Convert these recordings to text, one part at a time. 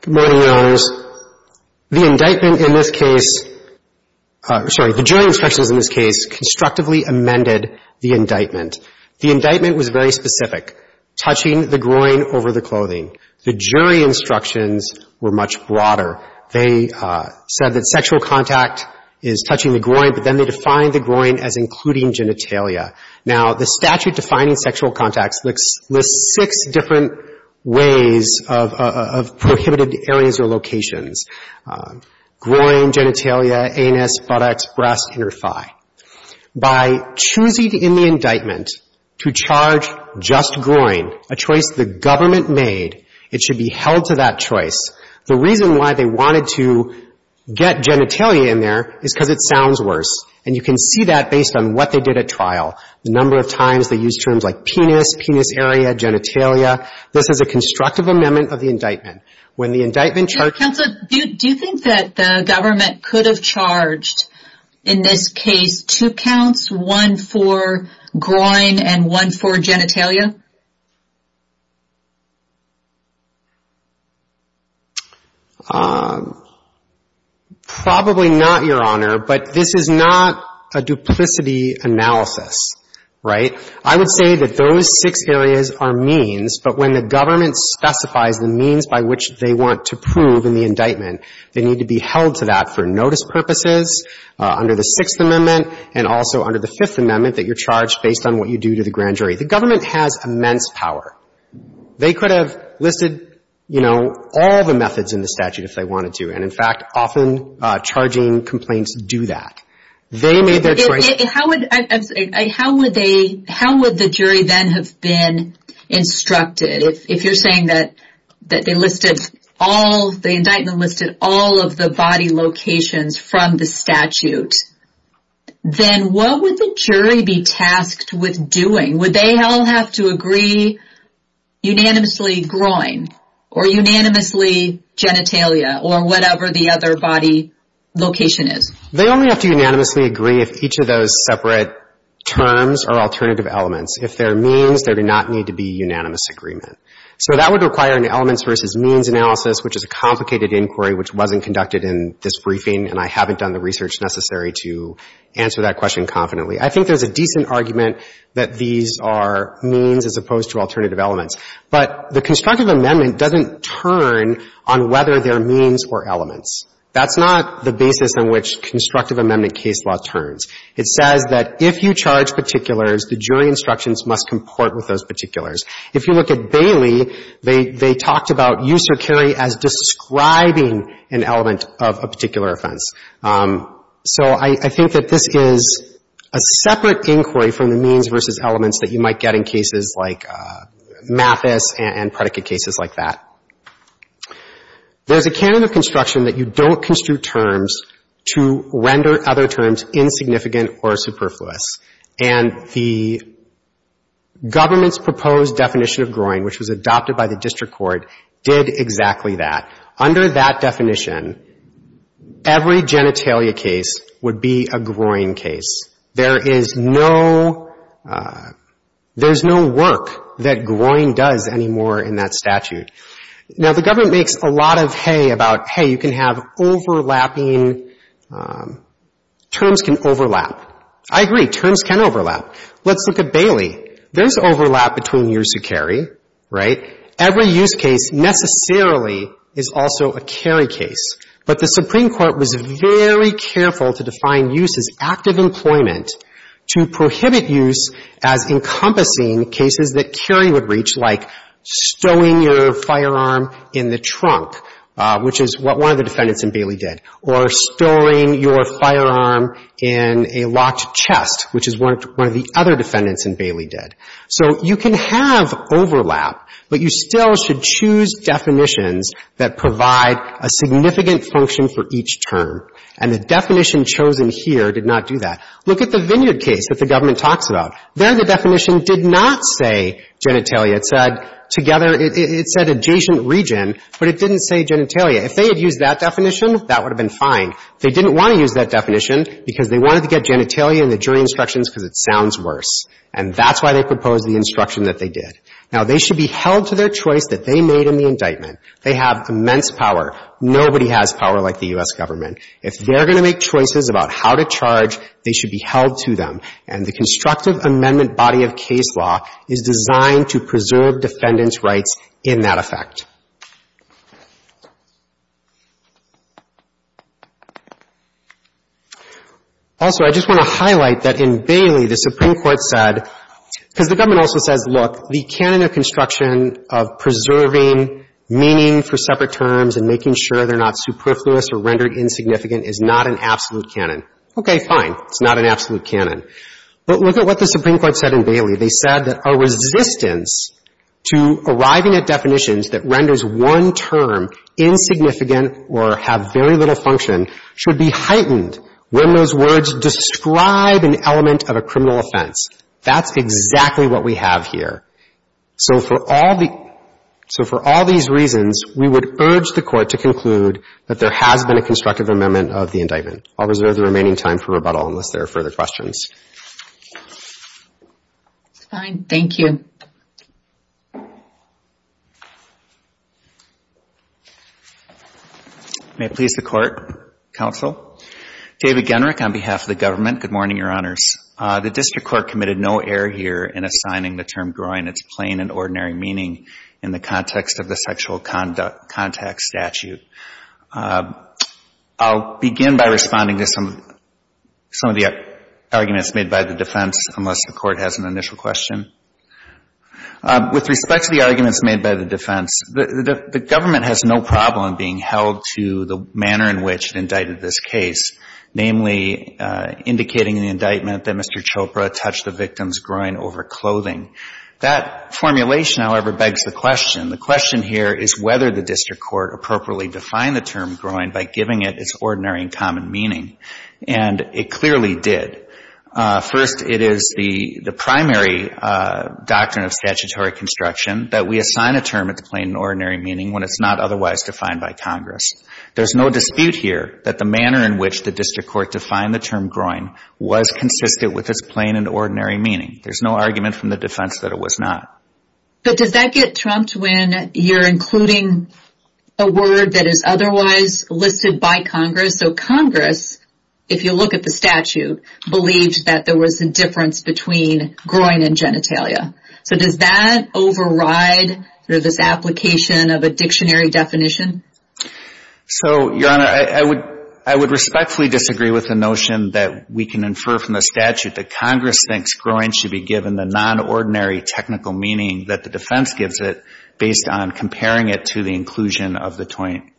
Good morning, Your Honors. The indictment in this case — sorry, the jury instructions in this case constructively amended the indictment. The indictment was very specific, touching the groin over the clothing. The jury instructions were much broader. They said that sexual contact is touching the groin, but then they defined the groin as including genitalia. Now, the jury instruction in this case lists six different ways of prohibited areas or locations. Groin, genitalia, anus, buttocks, breast, inner thigh. By choosing in the indictment to charge just groin, a choice the government made, it should be held to that choice. The reason why they wanted to get genitalia in there is because it sounds worse, and you can see that based on what they did at trial. The number of times they used terms like penis, penis area, genitalia. This is a constructive amendment of the indictment. When the indictment charged — Counsel, do you think that the government could have charged in this case two counts, one for groin and one for genitalia? Probably not, Your Honor, but this is not a duplicity analysis, right? I would say that those six areas are means, but when the government specifies the means by which they want to prove in the indictment, they need to be held to that for notice purposes under the Sixth Amendment and also under the Fifth Amendment that you're charged based on what you do to the grand jury. The government has immense power. They could have listed all the methods in the statute if they wanted to, and in fact, often charging complaints do that. They made their choice. How would the jury then have been instructed? If you're saying that the indictment listed all of the body locations from the statute, then what would the jury be tasked with doing would they all have to agree unanimously groin or unanimously genitalia or whatever the other body location is? They only have to unanimously agree if each of those separate terms are alternative elements. If they're means, there do not need to be unanimous agreement. So that would require an elements versus means analysis, which is a complicated inquiry which wasn't conducted in this briefing, and I haven't done the research necessary to answer that question confidently. I think there's a decent argument that these are means as opposed to alternative elements, but the Constructive Amendment doesn't turn on whether they're means or elements. That's not the basis on which Constructive Amendment case law turns. It says that if you charge particulars, the jury instructions must comport with those particulars. If you look at Bailey, they talked about use or carry as describing an element of a particular offense. So I think that this is a separate inquiry from the means versus elements that you might get in cases like Mathis and predicate cases like that. There's a canon of construction that you don't construe terms to render other terms insignificant or superfluous, and the government's proposed definition of groin, which was adopted by every genitalia case, would be a groin case. There is no, there's no work that groin does anymore in that statute. Now, the government makes a lot of hay about, hey, you can have overlapping, terms can overlap. I agree, terms can overlap. Let's look at Bailey. There's overlap between use or carry, right? Every use case necessarily is also a carry case. But the Supreme Court was very careful to define use as active employment to prohibit use as encompassing cases that carry would reach, like stowing your firearm in the trunk, which is what one of the defendants in Bailey did, or stowing your firearm in a locked chest, which is what one of the other defendants in Bailey did. So you can have overlap, but you still should choose definitions that provide a significant function for each term. And the definition chosen here did not do that. Look at the Vineyard case that the government talks about. There the definition did not say genitalia. It said together, it said adjacent region, but it didn't say genitalia. If they had used that definition, that would have been fine. They didn't want to use that definition because they wanted to get genitalia in the jury instructions because it sounds worse. And that's why they proposed the instruction that they did. Now they should be held to their choice that they made in the indictment. They have immense power. Nobody has power like the U.S. government. If they're going to make choices about how to charge, they should be held to them. And the constructive amendment body of case law is designed to preserve defendants' rights in that effect. Also, I just want to highlight that in Bailey, the Supreme Court said, because the government also says, look, the canon of construction of preserving meaning for separate terms and making sure they're not superfluous or rendered insignificant is not an absolute canon. Okay, fine. It's not an absolute canon. But look at what the Supreme Court said in Bailey. They said that a resistance to arriving at definitions that renders one term insignificant or have very little function should be heightened when those words describe an element of a criminal offense. That's exactly what we have here. So for all the — so for all these reasons, we would urge the Court to conclude that there has been a constructive amendment of the indictment. I'll reserve the remaining time for rebuttal unless there are further questions. It's fine. Thank you. May it please the Court, Counsel. David Genrick on behalf of the government. Good morning, Your Honors. The District Court committed no error here in assigning the term groin its plain and ordinary meaning in the context of the sexual contact statute. I'll begin by responding to some of the arguments made by the defense, unless the Court has an initial question. With respect to the arguments made by the defense, the government has no problem being held to the manner in which it indicted this case, namely indicating in the indictment that Mr. Chopra touched the victim's groin over clothing. That formulation, however, begs the question. The question here is whether the District Court appropriately defined the term groin by giving it its ordinary and common meaning. And it clearly did. First, it is the primary doctrine of statutory construction that we assign a term its plain and ordinary meaning when it's not otherwise defined by Congress. There's no dispute here that the manner in which the District Court defined the term groin was consistent with its plain and ordinary meaning. We're including a word that is otherwise listed by Congress. So Congress, if you look at the statute, believed that there was a difference between groin and genitalia. So does that override this application of a dictionary definition? So, Your Honor, I would respectfully disagree with the notion that we can infer from the statute that Congress thinks groin should be compared to the inclusion of the term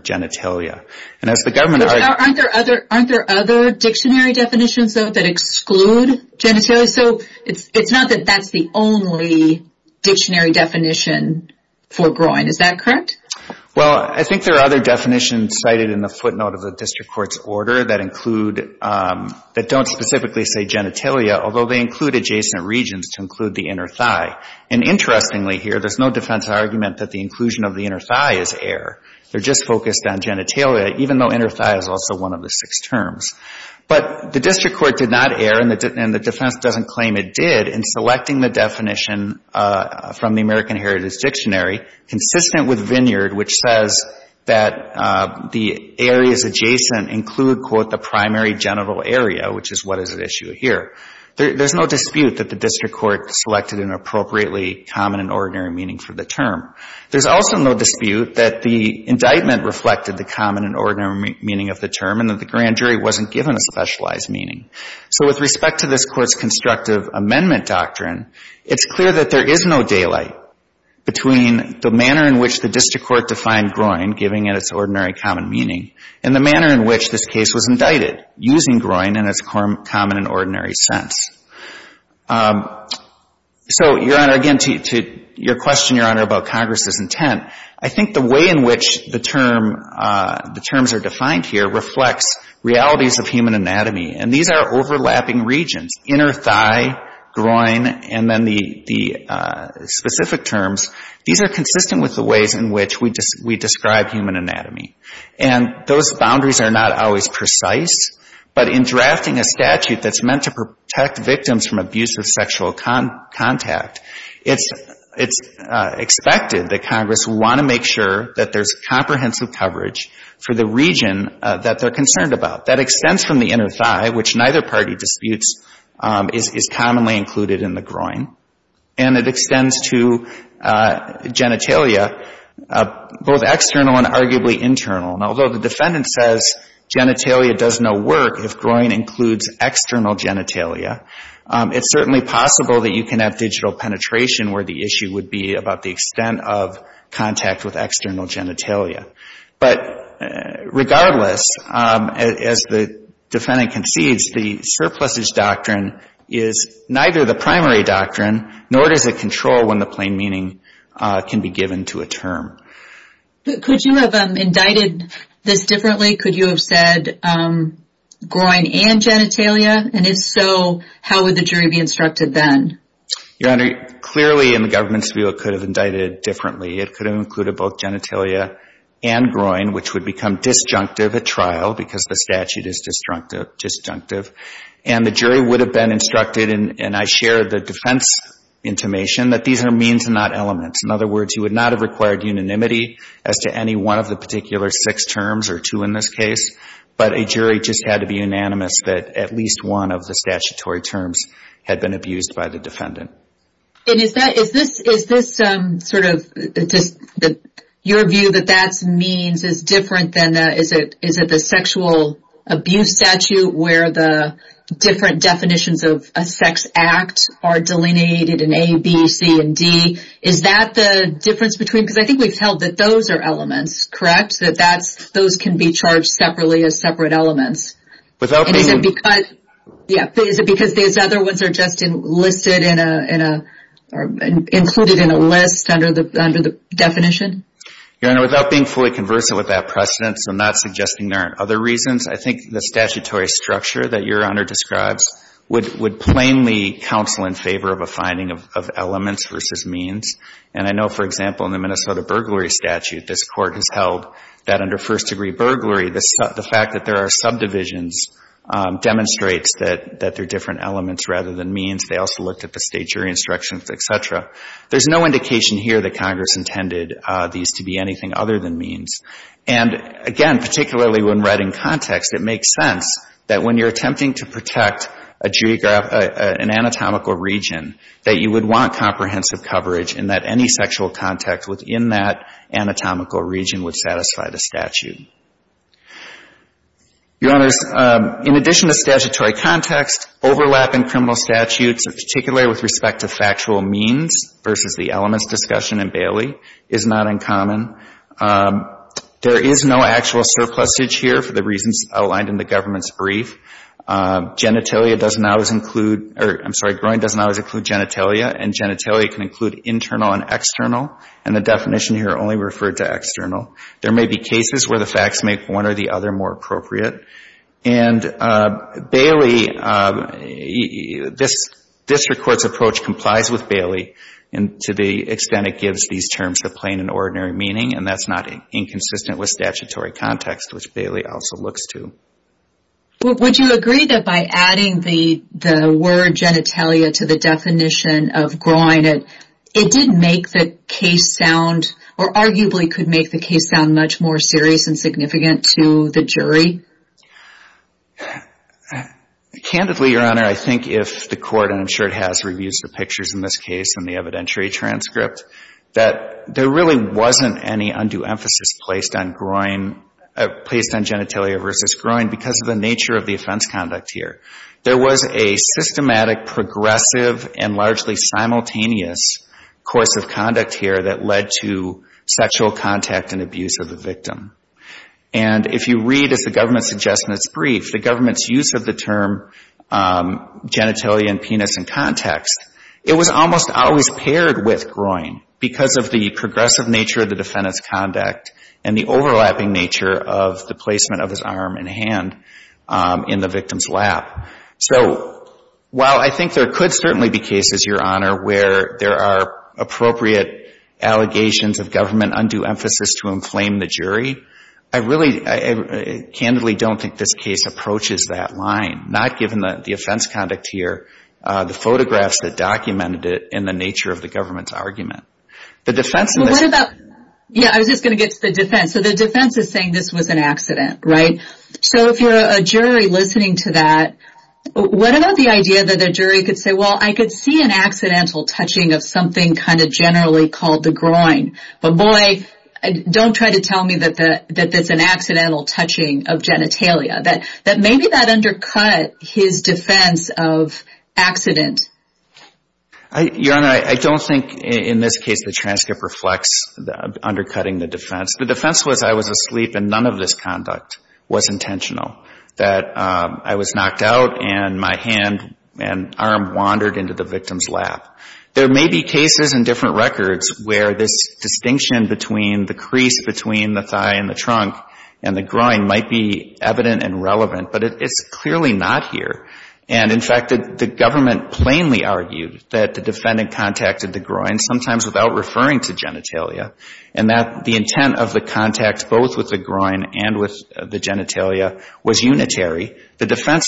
genitalia. Aren't there other dictionary definitions, though, that exclude genitalia? It's not that that's the only dictionary definition for groin. Is that correct? Well, I think there are other definitions cited in the footnote of the District Court's order that don't specifically say genitalia, although they include adjacent regions to genitalia, and the inclusion of the inner thigh is air. They're just focused on genitalia, even though inner thigh is also one of the six terms. But the District Court did not err, and the defense doesn't claim it did, in selecting the definition from the American Heritage Dictionary consistent with Vineyard, which says that the areas adjacent include, quote, the primary genital area, which is what is at issue here. There's no dispute that the District Court selected an appropriately common and ordinary meaning for the term. There's also no dispute that the indictment reflected the common and ordinary meaning of the term and that the grand jury wasn't given a specialized meaning. So with respect to this Court's constructive amendment doctrine, it's clear that there is no daylight between the manner in which the District Court defined groin, giving it its ordinary common meaning, and the manner in which this case was indicted, using groin in its common and ordinary sense. So, Your Honor, again, to your question, Your Honor, about Congress's intent, I think the way in which the term, the terms are defined here reflects realities of human anatomy, and these are overlapping regions, inner thigh, groin, and then the specific terms. These are consistent with the ways in which we describe human anatomy, and those boundaries are not always precise, but in drafting a statute that's meant to protect victims from abuse of sexual contact, it's expected that Congress will want to make sure that there's comprehensive coverage for the region that they're concerned about. That extends from the inner thigh, which neither party disputes, is commonly included in the groin, and it extends to genitalia, both external and internal. If the defendant says genitalia does no work, if groin includes external genitalia, it's certainly possible that you can have digital penetration where the issue would be about the extent of contact with external genitalia. But regardless, as the defendant concedes, the surpluses doctrine is neither the primary doctrine, nor does it control when the plain meaning can be given to a term. Could you have indicted this differently? Could you have said groin and genitalia, and if so, how would the jury be instructed then? Your Honor, clearly in the government's view it could have indicted differently. It could have included both genitalia and groin, which would become disjunctive at trial because the statute is disjunctive, and the jury would have been instructed, and I share the defense intimation, that these are means and not elements. In other words, you would not have required unanimity as to any one of the particular six terms, or two in this case, but a jury just had to be unanimous that at least one of the statutory terms had been abused by the defendant. And is this sort of your view that that means is different than, is it the sexual abuse statute where the different definitions of a sex act are delineated in A, B, C, and D? Is that the difference between, because I think we've held that those are elements, correct? That those can be charged separately as separate elements. Is it because these other ones are just listed in a, included in a list under the definition? Your Honor, without being fully conversant with that precedent, so not suggesting there aren't other reasons, I think the statutory structure that Your Honor describes would plainly counsel in favor of a finding of elements versus means. And I know, for example, in the Minnesota burglary statute, this Court has held that under first degree burglary, the fact that there are subdivisions demonstrates that they're different than means. And again, particularly when writing context, it makes sense that when you're attempting to protect a geographical, an anatomical region, that you would want comprehensive coverage and that any sexual contact within that anatomical region would satisfy the statute. Your Honors, in addition to statutory context, overlap in criminal statutes, particularly with respect to factual means versus the elements discussion in Bailey, is not uncommon. There is no actual surplusage here for the reasons outlined in the government's brief. Genitalia does not always include, I'm sorry, groin does not always include genitalia, and genitalia can include internal and external. And the definition here only referred to external. There may be cases where the facts make one or the other more appropriate. And Bailey, this Court's approach complies with Bailey, and to the extent it gives these terms the plain and ordinary meaning, and that's not inconsistent with statutory context, which Bailey also looks to. Would you agree that by adding the word genitalia to the definition of groin, it did make the case sound, or arguably could make the case sound much more serious and significant to the jury? Candidly, Your Honor, I think if the Court, and I'm sure it has reviews or pictures in this case in the evidentiary transcript, that there really wasn't any undue emphasis placed on groin, placed on genitalia versus groin because of the nature of the offense conduct here. There was a systematic, progressive, and largely simultaneous course of conduct here that led to sexual abuse, the government's adjustments brief, the government's use of the term genitalia and penis in context. It was almost always paired with groin because of the progressive nature of the defendant's conduct and the overlapping nature of the placement of his arm and hand in the victim's lap. So while I think there could certainly be cases, Your Honor, where there are appropriate allegations of government undue emphasis to inflame the jury, I really, candidly don't think this case approaches that line, not given the offense conduct here, the photographs that documented it, and the nature of the government's argument. Yeah, I was just going to get to the defense. So the defense is saying this was an accident, right? So if you're a jury listening to that, what about the idea that the jury could say, well, I could see an accidental touching of something kind of generally called the groin, but boy, don't try to tell me that that's an accidental touching of genitalia, that maybe that undercut his defense of accident. Your Honor, I don't think in this case the transcript reflects undercutting the defense. The defense was I was asleep and none of this conduct was intentional, that I was knocked out and my hand and arm wandered into the victim's lap. There may be cases in different records where this distinction between the crease between the thigh and the trunk and the groin might be evident and relevant, but it's clearly not here. And in fact, the government plainly argued that the defendant contacted the groin, sometimes without referring to genitalia, and that the intent of the contact both with the groin and with the genitalia was unitary. The defense,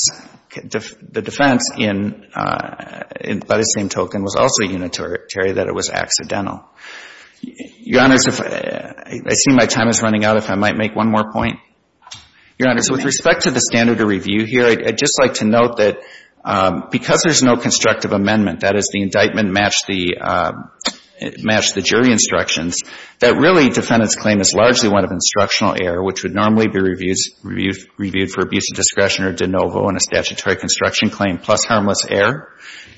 the defense in, by the same token, was also unitary, that it was accidental. Your Honors, I see my time is running out. If I might make one more point. Your Honors, with respect to the standard of review here, I'd just like to note that because there's no constructive amendment, that is, the indictment matched the jury instructions, that really defendant's claim is largely one of instructional error, which would normally be reviewed for abuse of discretion or de novo in a statutory construction claim, plus harmless error.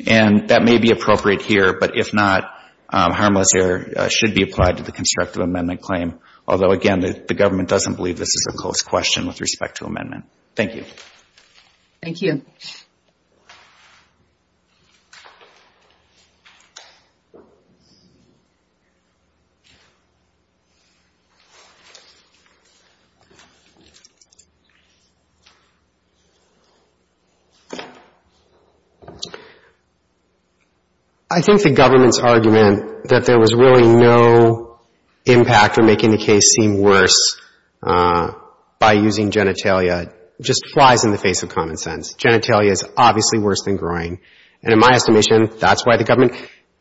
And that may be appropriate here, but if not, harmless error should be applied to the constructive amendment claim. Although, again, the government doesn't believe this is a close question with respect to amendment. Thank you. Thank you. I think the government's argument that there was really no impact in making the case seem worse by using genitalia just flies in the face of common sense. Genitalia is obviously worse than groin. And in my estimation, that's why the government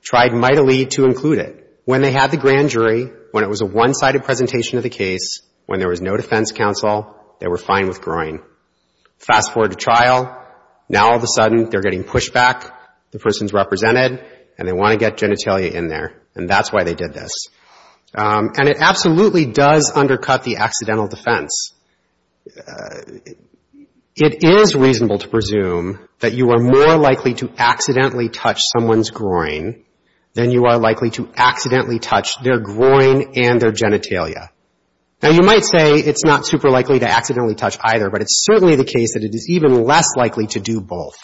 tried mightily to include it. When they had the grand jury, when it was a one-sided presentation of the case, when there was no defense counsel, they were fine with groin. Fast forward to trial, now all of a sudden they're getting pushback, the person's represented, and they want to get genitalia in there, and that's why they did this. And it absolutely does undercut the accidental defense. It is reasonable to presume that you are more likely to accidentally touch someone's groin than you are likely to accidentally touch their groin and their genitalia. Now, you might say it's not super likely to accidentally touch either, but it's certainly the case that it is even less likely to do both.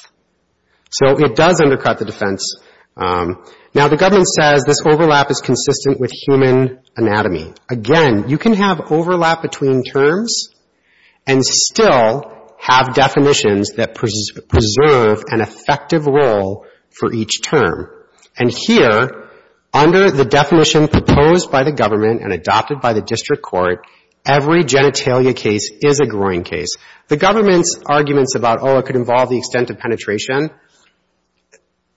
So it does undercut the defense. Now, the government says this overlap is consistent with human anatomy. Again, you can have overlap between terms and still have definitions that preserve an effective role for each term. And here, under the definition proposed by the government and adopted by the district court, every genitalia case is a groin case. The government's arguments about, oh, it could involve the extent of penetration,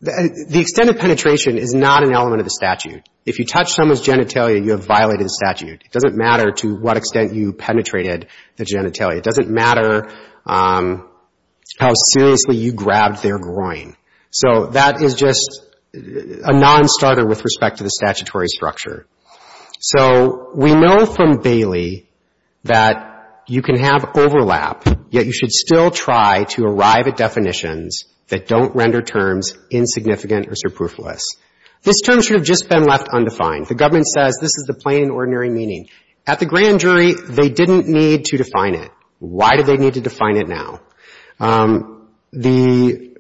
the extent of penetration is not an element of the statute. If you touch someone's genitalia, you have violated the statute. It doesn't matter to what extent you penetrated the genitalia. It doesn't matter how seriously you grabbed their groin. So that is just a nonstarter with respect to the statutory structure. So we know from Bailey that you can have overlap, yet you should still try to arrive at a definition that don't render terms insignificant or superfluous. This term should have just been left undefined. The government says this is the plain and ordinary meaning. At the grand jury, they didn't need to define it. Why do they need to define it now? The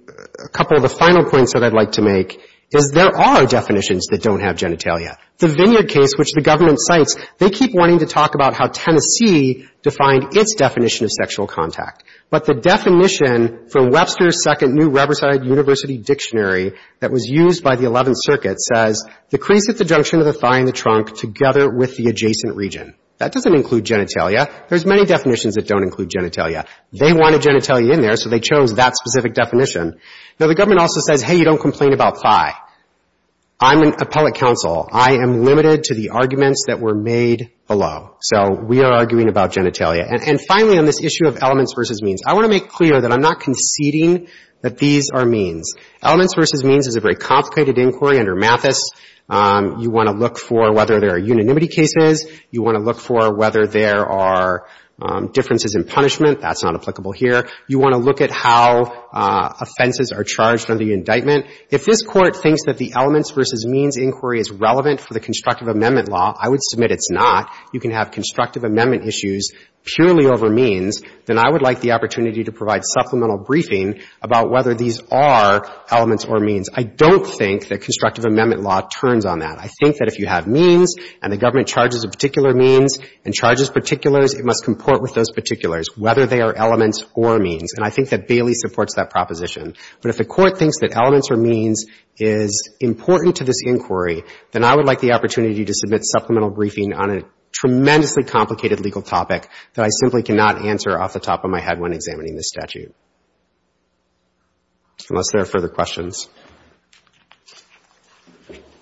couple of the final points that I'd like to make is there are definitions that don't have genitalia. The Vineyard case, which the government cites, they keep wanting to talk about how Webster's Second New Riverside University Dictionary that was used by the 11th Circuit says the crease at the junction of the thigh and the trunk together with the adjacent region. That doesn't include genitalia. There's many definitions that don't include genitalia. They wanted genitalia in there, so they chose that specific definition. Now, the government also says, hey, you don't complain about thigh. I'm an appellate counsel. I am limited to the arguments that were made below. So we are conceding that these are means. Elements v. Means is a very complicated inquiry under Mathis. You want to look for whether there are unanimity cases. You want to look for whether there are differences in punishment. That's not applicable here. You want to look at how offenses are charged under the indictment. If this Court thinks that the Elements v. Means inquiry is relevant for the constructive amendment law, I would like the opportunity to provide supplemental briefing about whether these are elements or means. I don't think that constructive amendment law turns on that. I think that if you have means and the government charges a particular means and charges particulars, it must comport with those particulars, whether they are elements or means. And I think that Bailey supports that proposition. But if the Court thinks that Elements v. Means is important to this inquiry, then I would like the opportunity to submit supplemental briefing on a tremendously complicated legal topic that I simply cannot answer off the top of my head when examining this statute, unless there are further questions.